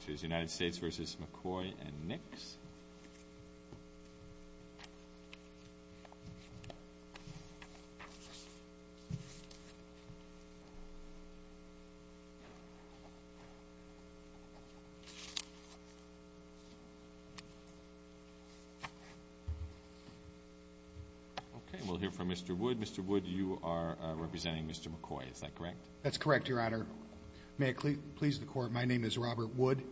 which is United States v. McCoy & Nix. Okay, we'll hear from Mr. Wood. Mr. Wood, you are representing Mr. McCoy, is that correct? That's correct, Your Honor. May I please the Court, my name is Robert Wood.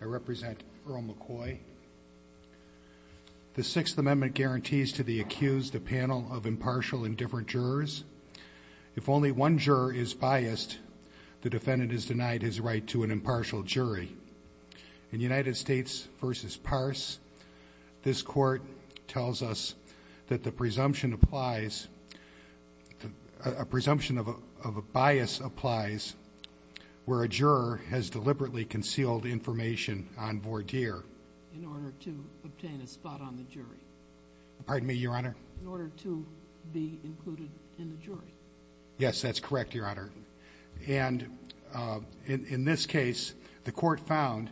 I represent Earl McCoy. The Sixth Amendment guarantees to the accused a panel of impartial and different jurors. If only one juror is biased, the defendant is denied his right to an impartial jury. In United States v. Parse, this Court tells us that the presumption applies, a presumption of a bias applies, where a juror has deliberately concealed information on voir dire. In order to obtain a spot on the jury. Pardon me, Your Honor? In order to be included in the jury. Yes, that's correct, Your Honor. in this case, the Court found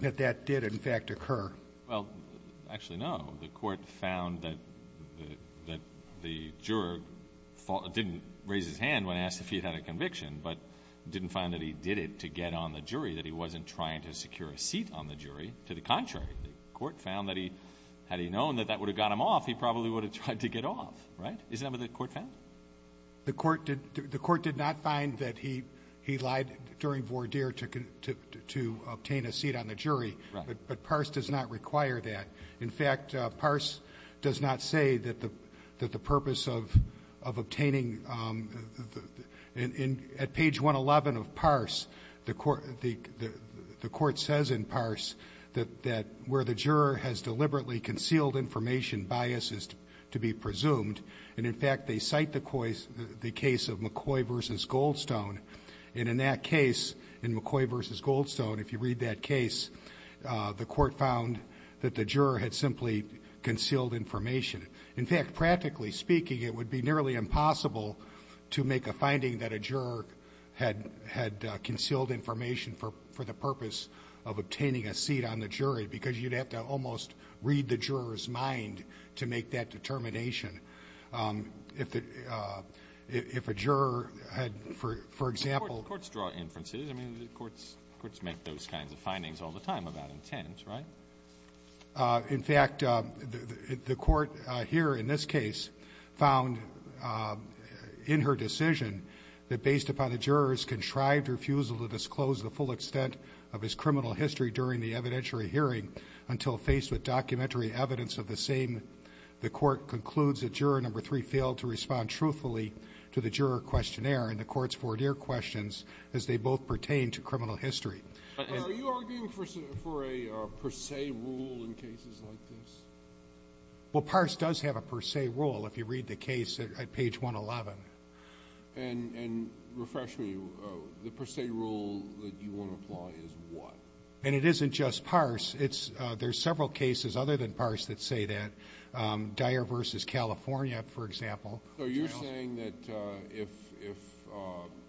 that that did, in fact, occur. Well, actually, no. The Court found that the juror didn't raise his hand when asked if he had a conviction, but didn't find that he did it to get on the jury, that he wasn't trying to secure a seat on the jury. To the contrary, the Court found that he, had he known that that would have got him off, he probably would have tried to get off, right? Is that what the Court found? The Court did not find that he lied during voir dire to obtain a seat on the jury, but PARSE does not require that. In fact, PARSE does not say that the purpose of obtaining, at page 111 of PARSE, the Court says in PARSE that where the juror has deliberately concealed information bias is to be presumed, and in fact, they cite the case of McCoy v. Goldstone, and in that case, in McCoy v. Goldstone, if you read that case, the Court found that the juror had simply concealed information. In fact, practically speaking, it would be nearly impossible to make a finding that a juror had concealed information for the purpose of obtaining a seat on the jury, because you'd have to almost read the juror's mind to make that determination. If a juror, for example... The courts draw inferences. The courts make those kinds of findings all the time about intents, right? In fact, the Court here in this case found in her decision that based upon the juror's contrived refusal to disclose the full extent of his criminal history during the evidentiary hearing until faced with documentary evidence of the same, the Court concludes that juror number three failed to respond truthfully to the juror questionnaire and the court's four-year questions as they both pertain to criminal history. Are you arguing for a per se rule in cases like this? Well, PARCE does have a per se rule, if you read the case at page 111. And refresh me, the per se rule that you want to apply is what? And it isn't just PARCE. There are several cases other than PARCE that say that if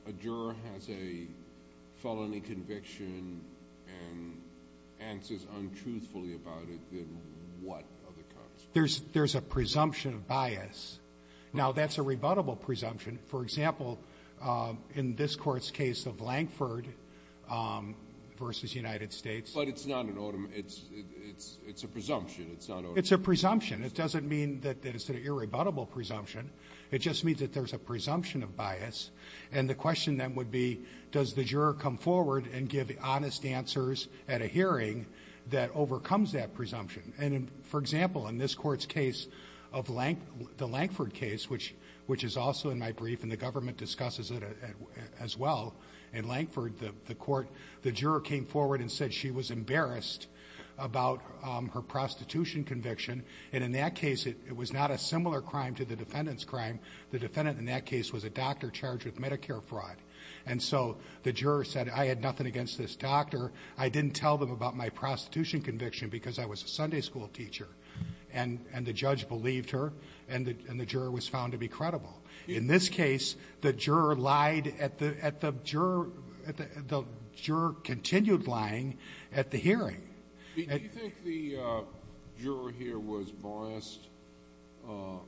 a juror has a felony conviction and answers untruthfully about it, then what are the consequences? There's a presumption of bias. Now, that's a rebuttable presumption. For example, in this Court's case of Lankford versus United States... But it's not an... It's a presumption. It's not... It's a presumption. It doesn't mean that it's an irrebuttable presumption. It just means that there's a presumption of bias. And the question then would be, does the juror come forward and give honest answers at a hearing that overcomes that presumption? And for example, in this Court's case, the Lankford case, which is also in my brief and the government discusses it as well, in Lankford, the court, the juror came forward and said she was embarrassed about her prostitution conviction. And in that case, it was not a similar crime to the defendant's crime. The defendant in that case was a doctor charged with Medicare fraud. And so the juror said, I had nothing against this doctor. I didn't tell them about my prostitution conviction because I was a Sunday school teacher. And the judge believed her. And the juror was found to be credible. In this case, the juror lied at the – at the juror – the juror continued lying at the hearing. Do you think the juror here was biased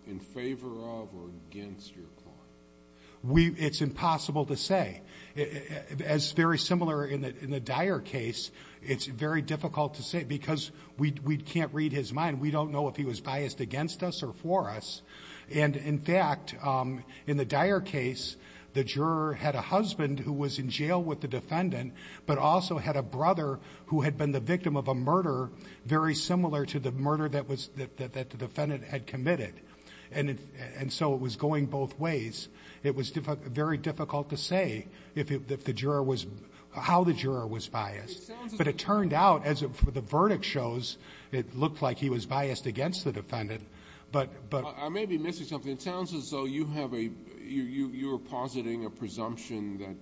in favor of or against your client? We – it's impossible to say. As very similar in the Dyer case, it's very difficult to say because we can't read his mind. We don't know if he was biased against us or for us. And in fact, in the Dyer case, the juror had a husband who was in jail with the defendant, but also had a brother who had been the victim of a murder very similar to the murder that was – that the defendant had committed. And so it was going both ways. It was very difficult to say if the juror was – how the juror was biased. But it turned out, as the verdict shows, it looked like he was biased against the defendant. But – but – I may be missing something. It sounds as though you have a – you're positing a presumption that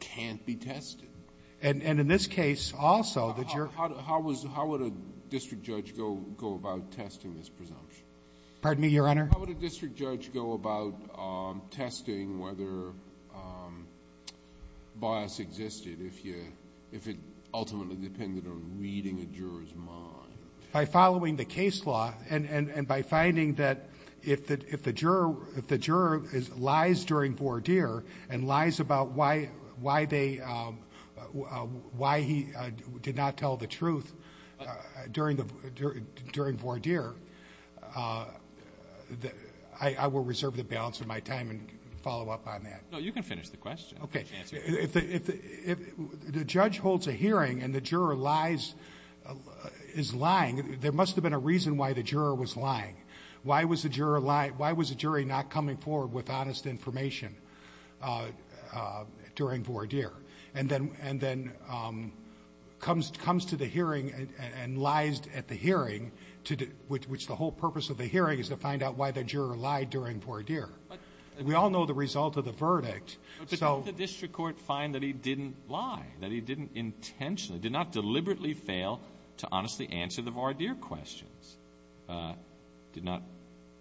can't be tested. And in this case, also, the juror – How would a district judge go about testing this presumption? Pardon me, Your Honor? How would a district judge go about testing whether bias existed if you – if it ultimately depended on reading a juror's mind? By following the case law and by finding that if the juror – if the juror lies during voir dire and lies about why they – why he did not tell the truth during voir dire, I will reserve the balance of my time and follow up on that. No, you can finish the question. Okay. If the – if the judge holds a hearing and the juror lies – is lying, there must have been a reason why the juror was lying. Why was the juror – why was the jury not coming forward with honest information during voir dire? And then – and then comes to the hearing and lies at the hearing, which the whole purpose of the hearing is to find out why the juror lied during voir dire. We all know the result of the verdict. But didn't the district court find that he didn't lie? That he didn't intentionally – did not deliberately fail to honestly answer the voir dire questions? Did not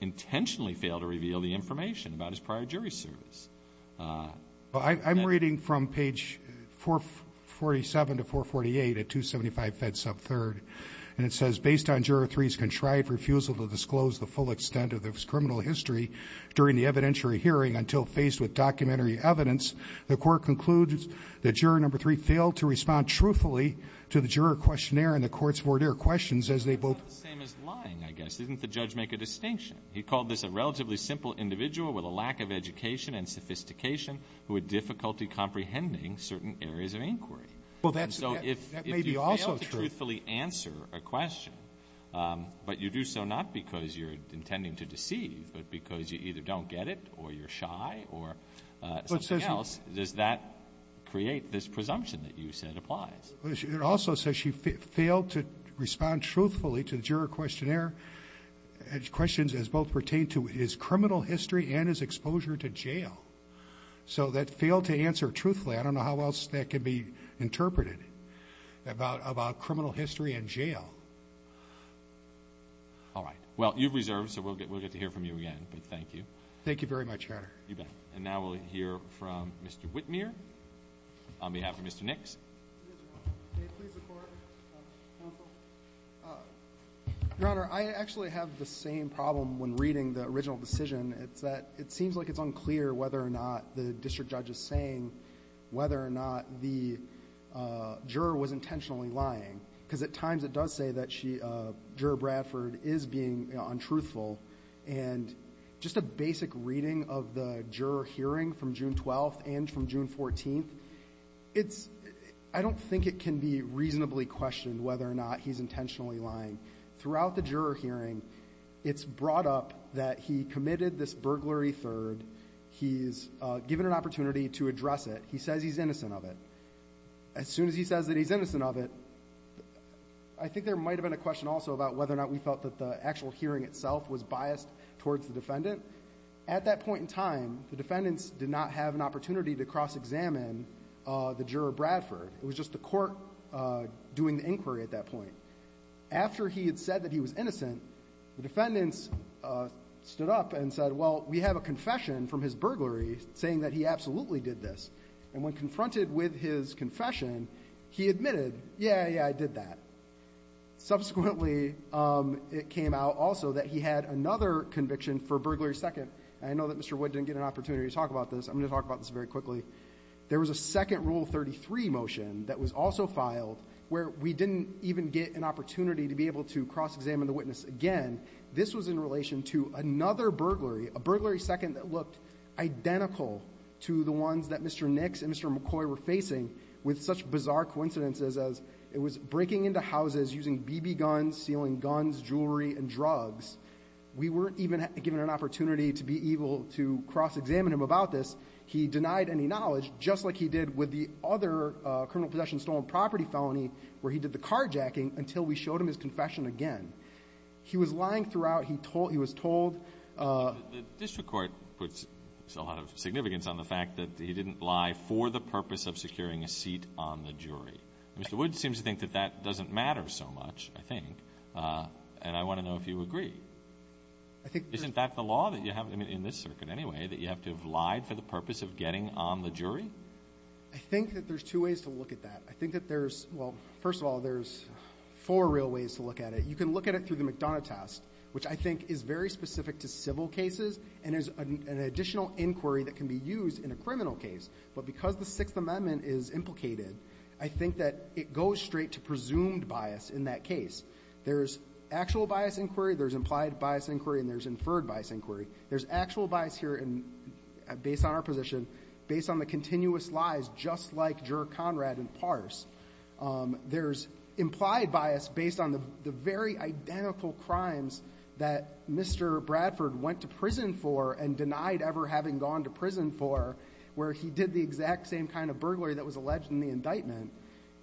intentionally fail to reveal the information about his prior jury service? I'm reading from page 447 to 448 at 275 Fed Sub 3rd, and it says, based on Juror 3's contrived refusal to disclose the full extent of this criminal history during the evidentiary hearing until faced with documentary evidence, the court concludes that Juror 3 failed to respond truthfully to the juror questionnaire and the court's voir dire questions as they both – It's not the same as lying, I guess. Didn't the judge make a distinction? He called this a relatively simple individual with a lack of education and sophistication who had difficulty comprehending certain areas of inquiry. Well, that's – that may be also true. And so if you fail to truthfully answer a question, but you do so not because you're intending to deceive, but because you either don't get it or you're shy or something else, does that create this presumption that you said applies? It also says she failed to respond truthfully to the juror questionnaire and questions as both pertain to his criminal history and his exposure to jail. So that failed to answer truthfully. I don't know how else that can be interpreted about criminal history and jail. All right. Well, you've reserved, so we'll get to hear from you again. But thank you. Thank you very much, Your Honor. You bet. And now we'll hear from Mr. Whitmer on behalf of Mr. Nix. Yes, Your Honor. May it please the Court, counsel? Your Honor, I actually have the same problem when reading the original decision. It's that it seems like it's unclear whether or not the district judge is saying whether or not the juror was intentionally lying, because at times it does say that Juror Bradford is being untruthful. And just a basic reading of the juror hearing from June 12th and from June 14th, I don't think it can be reasonably questioned whether or not he's intentionally lying. Throughout the juror hearing, it's brought up that he committed this burglary third. He's given an opportunity to address it. He says he's innocent of it. As soon as he says that he's innocent of it, I think there might have been a question also about whether or not we felt that the actual hearing itself was biased towards the defendant. At that point in time, the defendants did not have an opportunity to cross-examine the juror Bradford. It was just the court doing the inquiry at that point. After he had said that he was innocent, the defendants stood up and said, well, we have a confession from his burglary saying that he absolutely did this. And when confronted with his confession, he admitted, yeah, yeah, I did that. Subsequently, it came out also that he had another conviction for burglary second. And I know that Mr. Wood didn't get an opportunity to talk about this. I'm going to talk about this very quickly. There was a second Rule 33 motion that was also filed where we didn't even get an opportunity to be able to cross-examine the witness again. This was in relation to another burglary, a burglary second that looked identical to the ones that Mr. Nix and Mr. McCoy were facing with such bizarre coincidences as it was breaking into houses using BB guns, stealing guns, jewelry, and drugs. We weren't even given an opportunity to be able to cross-examine him about this. He denied any knowledge, just like he did with the other criminal possession stolen property felony where he did the carjacking until we showed him his confession again. He was lying throughout. He was told. The district court puts a lot of significance on the fact that he didn't lie for the purpose of securing a seat on the jury. Mr. Wood seems to think that that doesn't matter so much, I think, and I want to know if you agree. Isn't that the law in this circuit anyway, that you have to have lied for the purpose of getting on the jury? I think that there's two ways to look at that. I think that there's, well, first of all, there's four real ways to look at it. You can look at it through the McDonough test, which I think is very specific to civil cases, and there's an additional inquiry that can be used in a criminal case. But because the Sixth Amendment is implicated, I think that it goes straight to presumed bias in that case. There's actual bias inquiry, there's implied bias inquiry, and there's inferred bias inquiry. There's actual bias here based on our position, based on the continuous lies, just like Juror Conrad and Parse. There's implied bias based on the very identical crimes that Mr. Bradford went to prison for and denied ever having gone to prison for, where he did the exact same kind of burglary that was alleged in the indictment.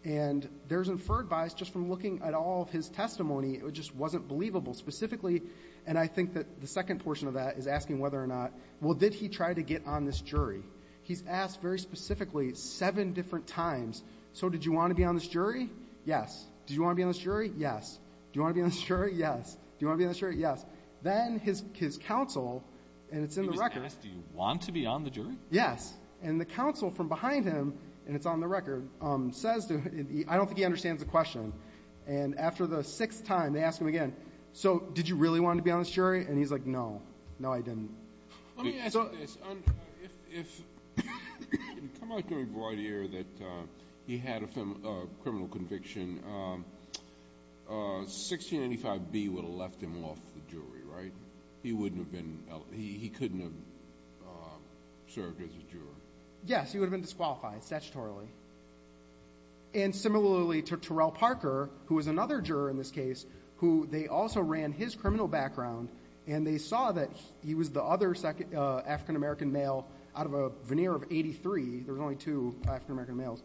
And there's inferred bias just from looking at all of his testimony. It just wasn't believable. Specifically, and I think that the second portion of that is asking whether or not, well, did he try to get on this jury? He's asked very specifically seven different times, so did you want to be on this jury? Yes. Did you want to be on this jury? Yes. Do you want to be on this jury? Yes. Do you want to be on this jury? Yes. Then his counsel, and it's in the record. He was asked, do you want to be on the jury? Yes. And the counsel from behind him, and it's on the record, says to him, I don't think he understands the question. And after the sixth time, they ask him again, so did you really want to be on this jury? And he's like, no. No, I didn't. Let me ask you this. If you come out to a variety error that he had a criminal conviction, 1685B would have left him off the jury, right? He couldn't have served as a juror. Yes, he would have been disqualified statutorily. And similarly to Terrell Parker, who was another juror in this case, who they also ran his criminal background, and they saw that he was the other African-American male out of a veneer of 83. There were only two African-American males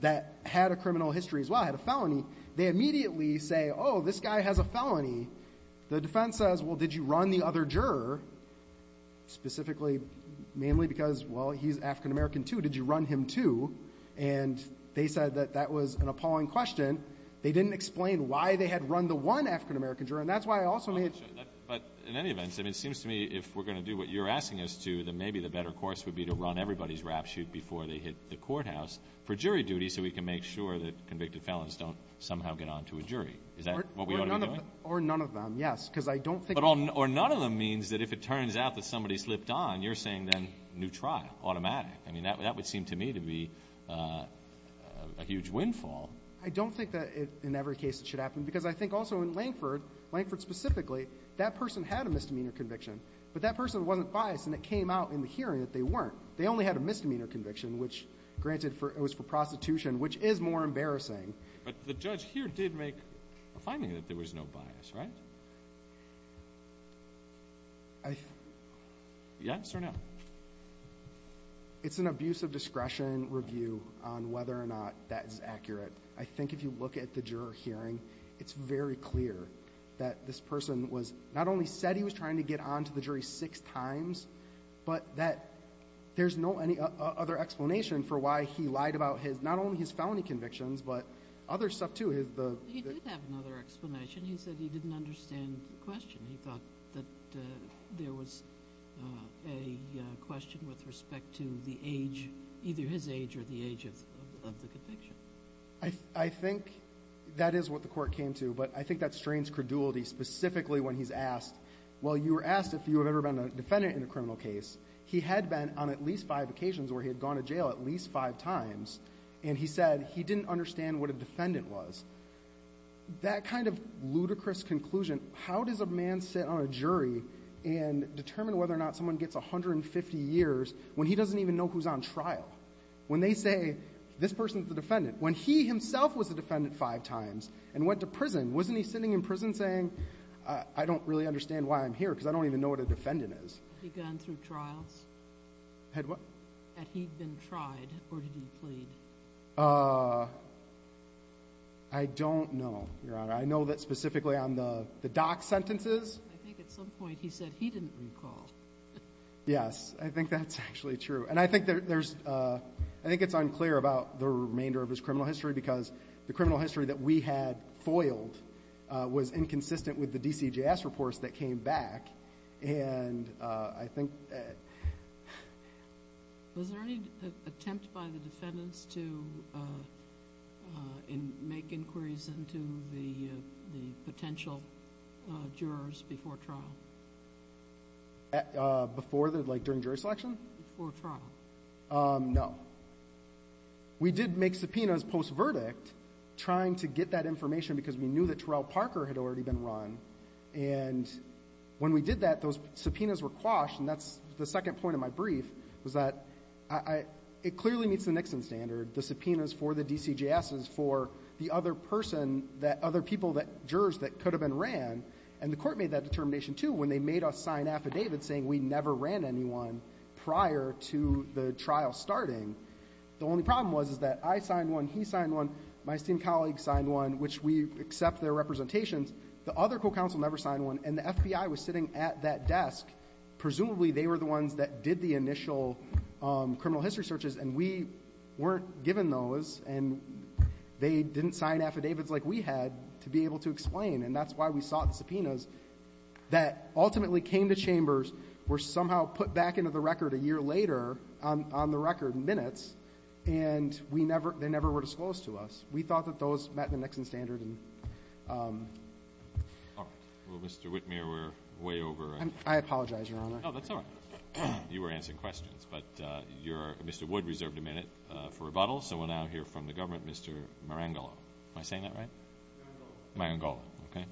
that had a criminal history as well, had a felony. They immediately say, oh, this guy has a felony. The defense says, well, did you run the other juror specifically mainly because, well, he's African-American too. Did you run him too? And they said that that was an appalling question. They didn't explain why they had run the one African-American juror. And that's why I also made it. But in any event, it seems to me if we're going to do what you're asking us to, then maybe the better course would be to run everybody's rapshoot before they hit the courthouse for jury duty so we can make sure that convicted felons don't somehow get on to a jury. Is that what we ought to be doing? Or none of them, yes, because I don't think. Or none of them means that if it turns out that somebody slipped on, you're saying then new trial, automatic. I mean, that would seem to me to be a huge windfall. I don't think that in every case it should happen. Because I think also in Lankford, Lankford specifically, that person had a misdemeanor conviction, but that person wasn't biased and it came out in the hearing that they weren't. They only had a misdemeanor conviction, which granted it was for prostitution, which is more embarrassing. But the judge here did make a finding that there was no bias, right? Yes or no? It's an abuse of discretion review on whether or not that is accurate. I think if you look at the juror hearing, it's very clear that this person was not only said he was trying to get on to the jury six times, but that there's no other explanation for why he lied about not only his felony convictions but other stuff too. He did have another explanation. He said he didn't understand the question. He thought that there was a question with respect to the age, either his age or the age of the conviction. I think that is what the court came to, but I think that strains credulity specifically when he's asked, well, you were asked if you have ever been a defendant in a criminal case. He had been on at least five occasions where he had gone to jail at least five times, and he said he didn't understand what a defendant was. That kind of ludicrous conclusion, how does a man sit on a jury and determine whether or not someone gets 150 years when he doesn't even know who's on trial? When they say this person's the defendant, when he himself was a defendant five times and went to prison, wasn't he sitting in prison saying I don't really understand why I'm here because I don't even know what a defendant is? Had he gone through trials? Had what? Had he been tried or did he plead? I don't know, Your Honor. I know that specifically on the doc sentences. I think at some point he said he didn't recall. Yes, I think that's actually true. And I think there's ‑‑ I think it's unclear about the remainder of his criminal history because the criminal history that we had foiled was inconsistent with the DCJS reports that came back. And I think ‑‑ Was there any attempt by the defendants to make inquiries into the potential jurors before trial? Before the ‑‑ like during jury selection? Before trial. No. We did make subpoenas post verdict trying to get that information because we knew that Terrell Parker had already been run. And when we did that, those subpoenas were quashed. And that's the second point of my brief was that it clearly meets the Nixon standard, the subpoenas for the DCJS is for the other person that other people that jurors that could have been ran. And the court made that determination, too, when they made us sign affidavits saying we never ran anyone prior to the trial starting. The only problem was that I signed one, he signed one, my esteemed colleague signed one, which we accept their representations. The other co‑counsel never signed one, and the FBI was sitting at that desk. Presumably they were the ones that did the initial criminal history searches, and we weren't given those, and they didn't sign affidavits like we had to be able to explain. And that's why we sought the subpoenas that ultimately came to chambers, were somehow put back into the record a year later on the record in minutes, and they never were disclosed to us. We thought that those met the Nixon standard. All right. Well, Mr. Whitmer, we're way over. I apologize, Your Honor. No, that's all right. You were answering questions, but Mr. Wood reserved a minute for rebuttal, so we'll now hear from the government, Mr. Marangolo. Am I saying that right? Marangolo. Marangolo. Okay.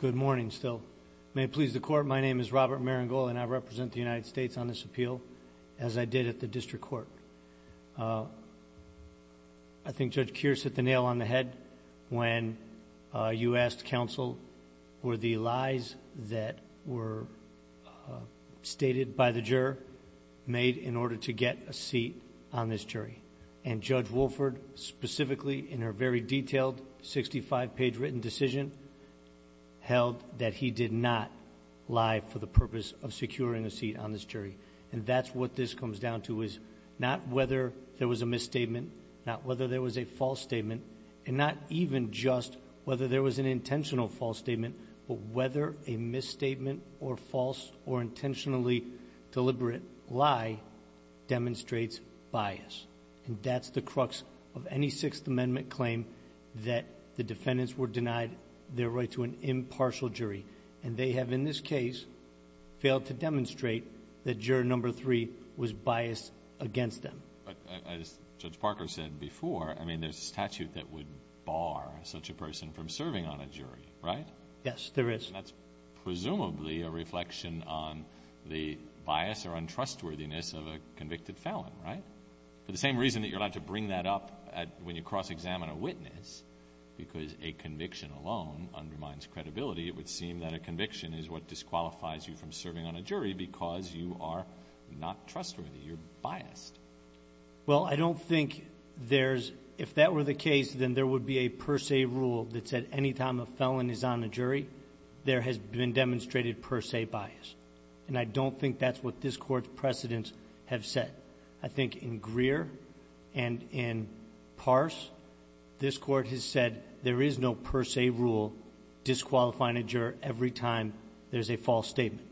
Good morning still. May it please the Court, my name is Robert Marangolo, and I represent the United States on this appeal, as I did at the district court. I think Judge Keir set the nail on the head when you asked counsel were the lies that were stated by the juror made in order to get a seat on this jury. And Judge Wolford, specifically in her very detailed 65-page written decision, held that he did not lie for the purpose of securing a seat on this jury. And that's what this comes down to is not whether there was a misstatement, not whether there was a false statement, and not even just whether there was an intentional false statement, but whether a misstatement or false or intentionally deliberate lie demonstrates bias. And that's the crux of any Sixth Amendment claim that the defendants were denied their right to an impartial jury. And they have, in this case, failed to demonstrate that juror number three was biased against them. As Judge Parker said before, I mean, there's a statute that would bar such a person from serving on a jury, right? Yes, there is. That's presumably a reflection on the bias or untrustworthiness of a convicted felon, right? For the same reason that you're allowed to bring that up when you cross-examine a witness, because a conviction alone undermines credibility, it would seem that a conviction is what disqualifies you from serving on a jury because you are not trustworthy. You're biased. Well, I don't think there's — if that were the case, then there would be a per se rule that said any time a felon is on a jury, there has been demonstrated per se bias. And I don't think that's what this Court's precedents have said. I think in Greer and in Pars, this Court has said there is no per se rule disqualifying a juror every time there's a false statement.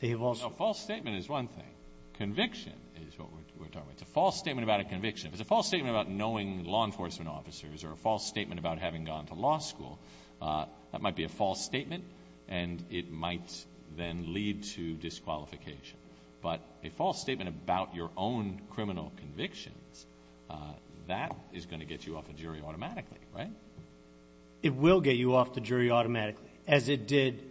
They have also — No, false statement is one thing. Conviction is what we're talking about. It's a false statement about a conviction. If it's a false statement about knowing law enforcement officers or a false statement about having gone to law school, that might be a false statement, and it might then lead to disqualification. But a false statement about your own criminal convictions, that is going to get you off the jury automatically, right? It will get you off the jury automatically, as it did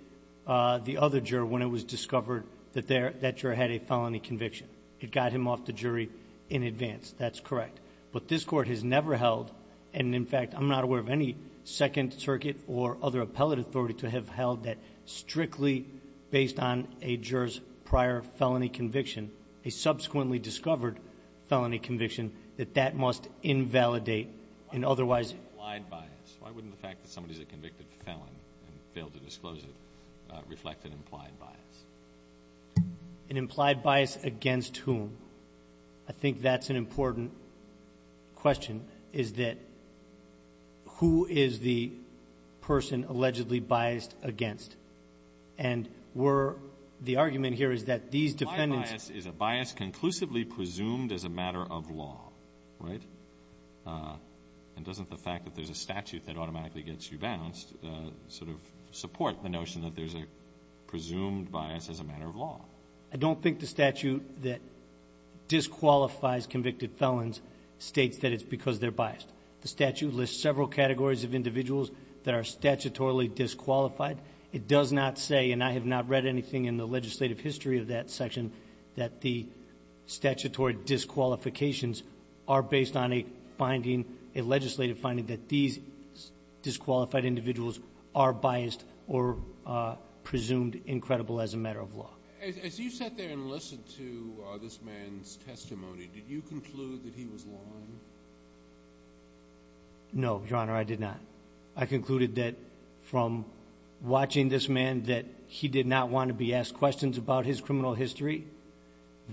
the other juror when it was discovered that that juror had a felony conviction. It got him off the jury in advance. That's correct. But this Court has never held — and, in fact, I'm not aware of any Second Circuit or other appellate authority to have held that strictly based on a juror's prior felony conviction, a subsequently discovered felony conviction, that that must invalidate an otherwise — Why wouldn't implied bias? Why wouldn't the fact that somebody's a convicted felon and failed to disclose it reflect an implied bias? An implied bias against whom? I think that's an important question, is that who is the person allegedly biased against? And we're — the argument here is that these defendants — Implied bias is a bias conclusively presumed as a matter of law, right? And doesn't the fact that there's a statute that automatically gets you bounced sort of support the notion that there's a presumed bias as a matter of law? I don't think the statute that disqualifies convicted felons states that it's because they're biased. The statute lists several categories of individuals that are statutorily disqualified. It does not say, and I have not read anything in the legislative history of that section, that the statutory disqualifications are based on a finding, a legislative finding, that these disqualified individuals are biased or presumed incredible as a matter of law. As you sat there and listened to this man's testimony, did you conclude that he was lying? No, Your Honor, I did not. I concluded that from watching this man, that he did not want to be asked questions about his criminal history,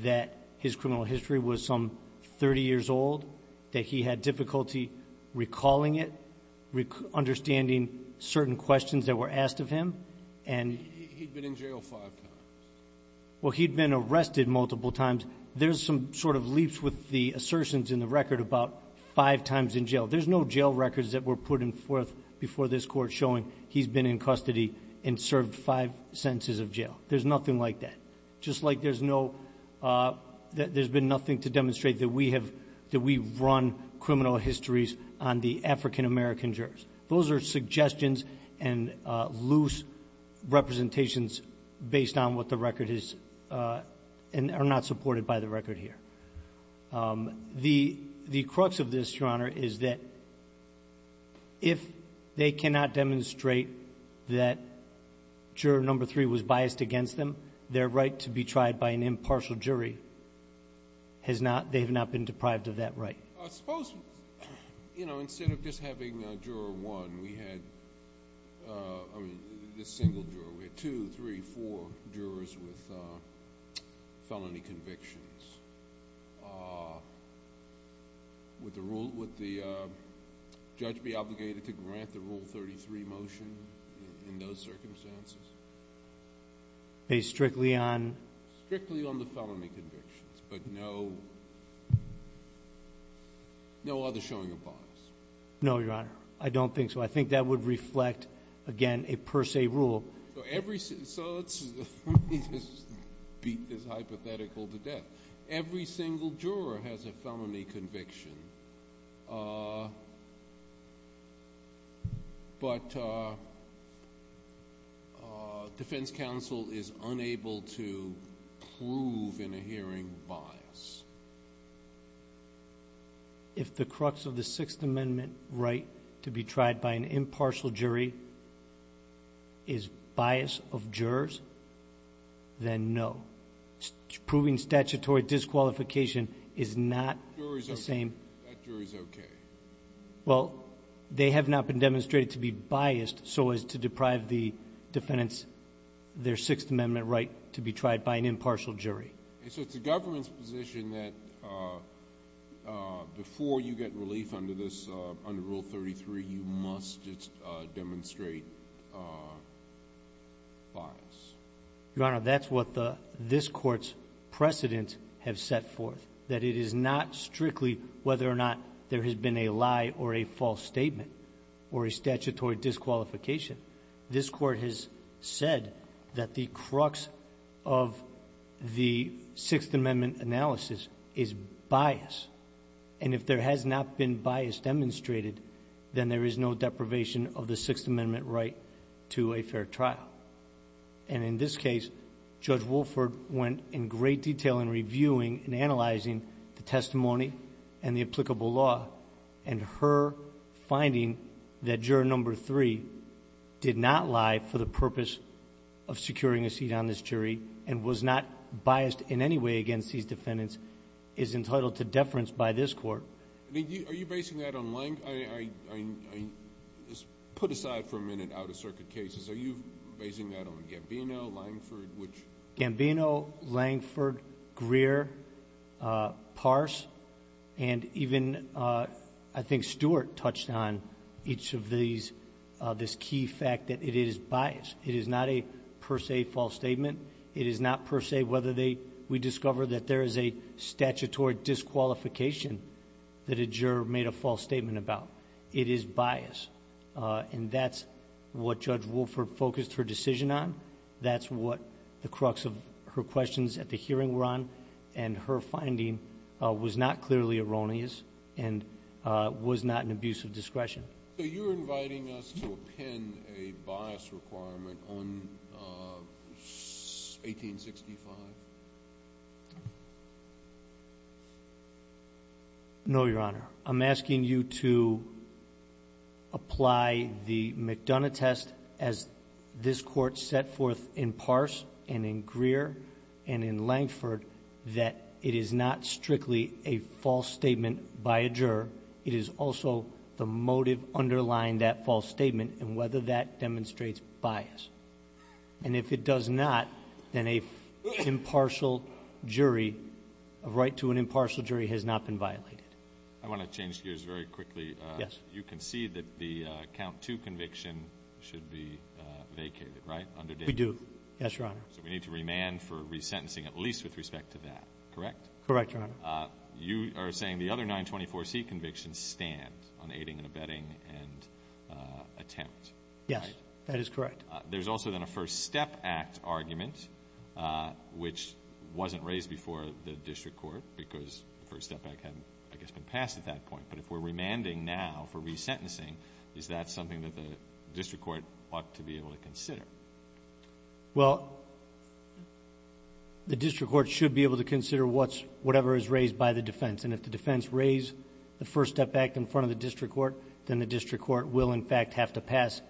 that his criminal history was some 30 years old, that he had difficulty recalling it, understanding certain questions that were asked of him, and— He'd been in jail five times. Well, he'd been arrested multiple times. There's some sort of leaps with the assertions in the record about five times in jail. There's no jail records that were put forth before this Court showing he's been in custody and served five sentences of jail. There's nothing like that, just like there's been nothing to demonstrate that we run criminal histories on the African-American jurors. Those are suggestions and loose representations based on what the record is, and are not supported by the record here. The crux of this, Your Honor, is that if they cannot demonstrate that juror number three was biased against them, their right to be tried by an impartial jury has not — they have not been deprived of that right. Suppose, you know, instead of just having juror one, we had, I mean, this single juror, we had two, three, four jurors with felony convictions. Would the judge be obligated to grant the Rule 33 motion in those circumstances? Based strictly on? Strictly on the felony convictions, but no other showing of bias. No, Your Honor, I don't think so. I think that would reflect, again, a per se rule. So let's just beat this hypothetical to death. Every single juror has a felony conviction, but defense counsel is unable to prove in a hearing bias. If the crux of the Sixth Amendment right to be tried by an impartial jury is bias of jurors, then no. Proving statutory disqualification is not the same. That jury's okay. Well, they have not been demonstrated to be biased so as to deprive the defendants their Sixth Amendment right to be tried by an impartial jury. So it's the government's position that before you get relief under Rule 33, you must demonstrate bias. Your Honor, that's what this Court's precedent have set forth, that it is not strictly whether or not there has been a lie or a false statement or a statutory disqualification. This Court has said that the crux of the Sixth Amendment analysis is bias. And if there has not been bias demonstrated, then there is no deprivation of the Sixth Amendment right to a fair trial. And in this case, Judge Wolford went in great detail in reviewing and analyzing the testimony and the applicable law and her finding that Juror No. 3 did not lie for the purpose of securing a seat on this jury and was not biased in any way against these defendants is entitled to deference by this Court. Are you basing that on Langford? Put aside for a minute out-of-circuit cases. Are you basing that on Gambino, Langford? Gambino, Langford, Greer, Pars, and even I think Stewart touched on each of these, this key fact that it is bias. It is not a per se false statement. It is not per se whether we discover that there is a statutory disqualification that a juror made a false statement about. It is bias. And that's what Judge Wolford focused her decision on. That's what the crux of her questions at the hearing were on. And her finding was not clearly erroneous and was not an abuse of discretion. So you're inviting us to append a bias requirement on 1865? No, Your Honor. I'm asking you to apply the McDonough test as this Court set forth in Pars and in Greer and in Langford that it is not strictly a false statement by a juror. It is also the motive underlying that false statement and whether that demonstrates bias. And if it does not, then a impartial jury, a right to an impartial jury has not been violated. I want to change gears very quickly. Yes. You concede that the Count II conviction should be vacated, right? We do. Yes, Your Honor. So we need to remand for resentencing at least with respect to that, correct? Correct, Your Honor. You are saying the other 924C convictions stand on aiding and abetting and attempt, right? Yes. That is correct. There's also then a First Step Act argument, which wasn't raised before the district court because the First Step Act hadn't, I guess, been passed at that point. But if we're remanding now for resentencing, is that something that the district court ought to be able to consider? Well, the district court should be able to consider whatever is raised by the defense. And if the defense raised the First Step Act in front of the district court, then the district court will, in fact, have to pass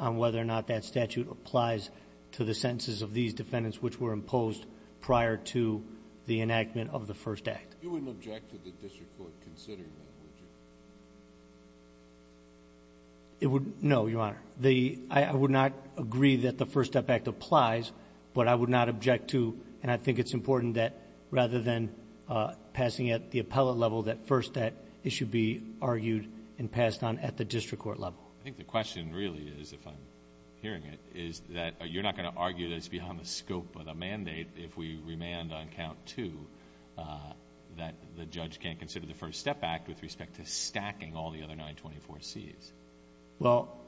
on whether or not that statute applies to the sentences of these defendants which were imposed prior to the enactment of the First Act. You wouldn't object to the district court considering that, would you? No, Your Honor. I would not agree that the First Step Act applies, but I would not object to, and I think it's important that rather than passing at the appellate level that First Step, it should be argued and passed on at the district court level. I think the question really is, if I'm hearing it, is that you're not going to argue that it's beyond the scope of the mandate if we remand on Count 2 that the judge can't consider the First Step Act with respect to stacking all the other 924Cs. Well,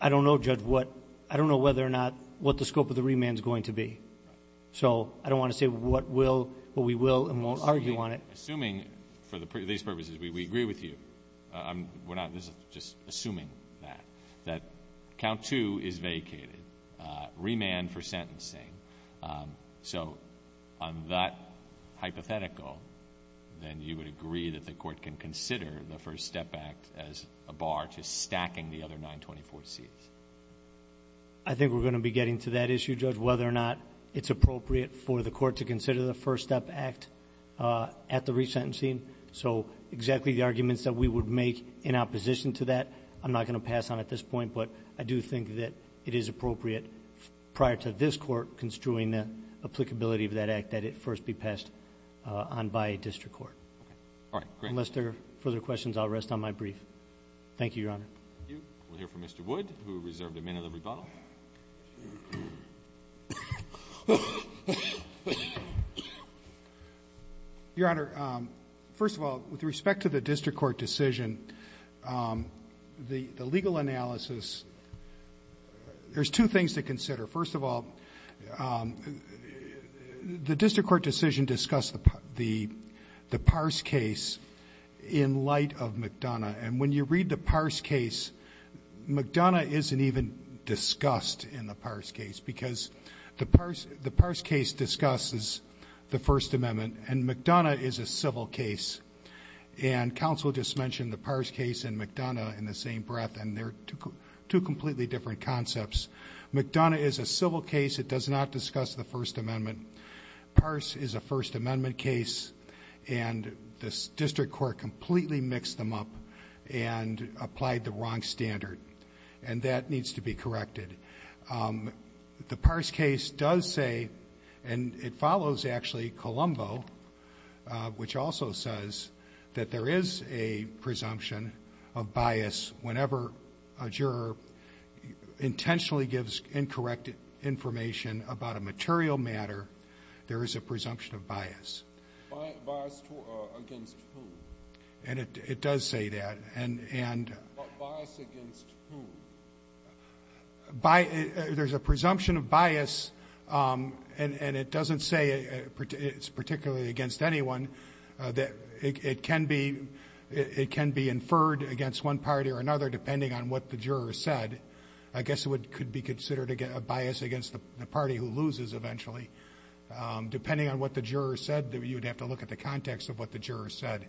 I don't know, Judge, what the scope of the remand is going to be. So I don't want to say what we will and won't argue on it. Assuming, for these purposes, we agree with you, we're not just assuming that, that Count 2 is vacated, remand for sentencing. So on that hypothetical, then you would agree that the court can consider the First Step Act as a bar to stacking the other 924Cs. I think we're going to be getting to that issue, Judge, of whether or not it's appropriate for the court to consider the First Step Act at the resentencing. So exactly the arguments that we would make in opposition to that, I'm not going to pass on at this point, but I do think that it is appropriate prior to this court construing the applicability of that act that it first be passed on by a district court. Unless there are further questions, I'll rest on my brief. Thank you, Your Honor. Thank you. We'll hear from Mr. Wood, who reserved a minute of rebuttal. Your Honor, first of all, with respect to the district court decision, the legal analysis, there's two things to consider. First of all, the district court decision discussed the Parse case in light of McDonough, and when you read the Parse case, McDonough isn't even discussed in the Parse case because the Parse case discusses the First Amendment, and McDonough is a civil case. And counsel just mentioned the Parse case and McDonough in the same breath, and they're two completely different concepts. McDonough is a civil case. It does not discuss the First Amendment. Parse is a First Amendment case, and the district court completely mixed them up and applied the wrong standard, and that needs to be corrected. The Parse case does say, and it follows actually Colombo, which also says that there is a presumption of bias whenever a juror intentionally gives incorrect information about a material matter, there is a presumption of bias. Bias against whom? And it does say that. Bias against whom? There's a presumption of bias, and it doesn't say it's particularly against anyone. It can be inferred against one party or another depending on what the juror said. I guess it could be considered a bias against the party who loses eventually. Depending on what the juror said, you'd have to look at the context of what the juror said.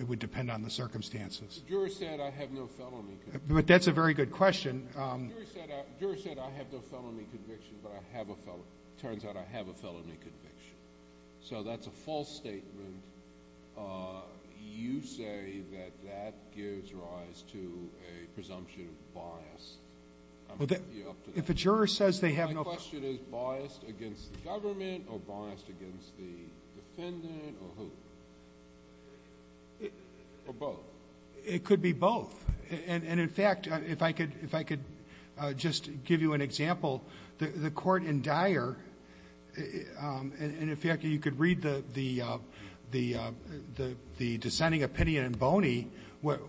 It would depend on the circumstances. The juror said I have no felony conviction. But that's a very good question. The juror said I have no felony conviction, but I have a felony. So that's a false statement. You say that that gives rise to a presumption of bias. I'm going to leave you up to that. My question is biased against the government or biased against the defendant or who? Or both? It could be both. And, in fact, if I could just give you an example, the court in Dyer, and, in fact, you could read the dissenting opinion in Boney, what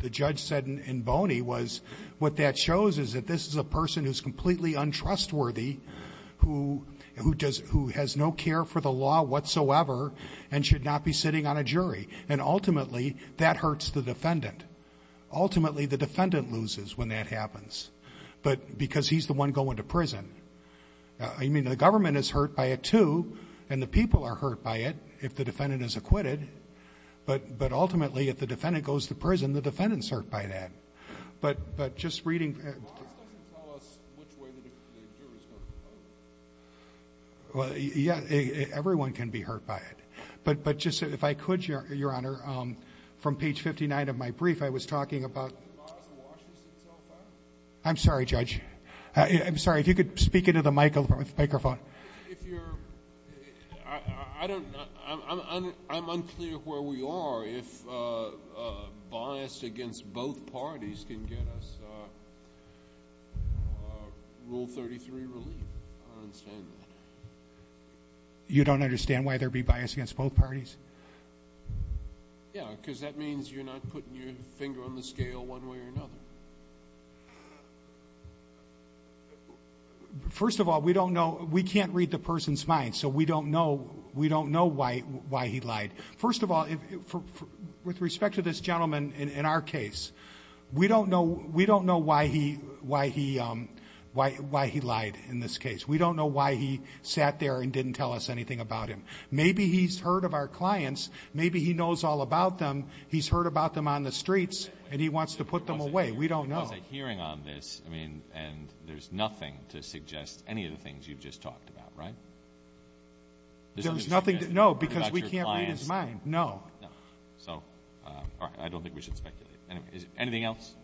the judge said in Boney was what that shows is that this is a person who's completely untrustworthy, who has no care for the law whatsoever and should not be sitting on a jury. And, ultimately, that hurts the defendant. Ultimately, the defendant loses when that happens because he's the one going to prison. I mean, the government is hurt by it, too, and the people are hurt by it if the defendant is acquitted. But, ultimately, if the defendant goes to prison, the defendants hurt by that. But just reading. This doesn't tell us which way the jury is going to vote. Yeah, everyone can be hurt by it. But just if I could, Your Honor, from page 59 of my brief, I was talking about... Can you bias the Washington so far? I'm sorry, Judge. I'm sorry. If you could speak into the microphone. If you're... I don't... I'm unclear where we are if biased against both parties can get us Rule 33 relief. I don't understand that. You don't understand why there would be bias against both parties? Yeah, because that means you're not putting your finger on the scale one way or another. First of all, we don't know... We can't read the person's mind, so we don't know why he lied. First of all, with respect to this gentleman in our case, we don't know why he lied in this case. We don't know why he sat there and didn't tell us anything about him. Maybe he's heard of our clients. Maybe he knows all about them. He's heard about them on the streets, and he wants to put them away. We don't know. There was a hearing on this, and there's nothing to suggest any of the things you've just talked about, right? No, because we can't read his mind. No. So I don't think we should speculate. Anything else?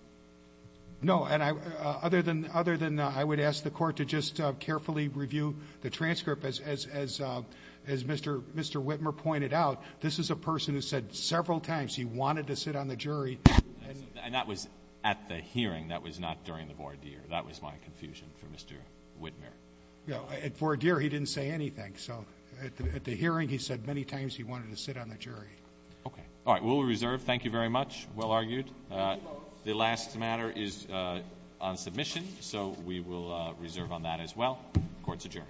No. Other than I would ask the Court to just carefully review the transcript, as Mr. Whitmer pointed out, this is a person who said several times he wanted to sit on the jury. And that was at the hearing. That was not during the voir dire. That was my confusion for Mr. Whitmer. At voir dire, he didn't say anything. So at the hearing, he said many times he wanted to sit on the jury. Okay. All right. Rule of reserve, thank you very much. Well argued. The last matter is on submission, so we will reserve on that as well. Court is adjourned.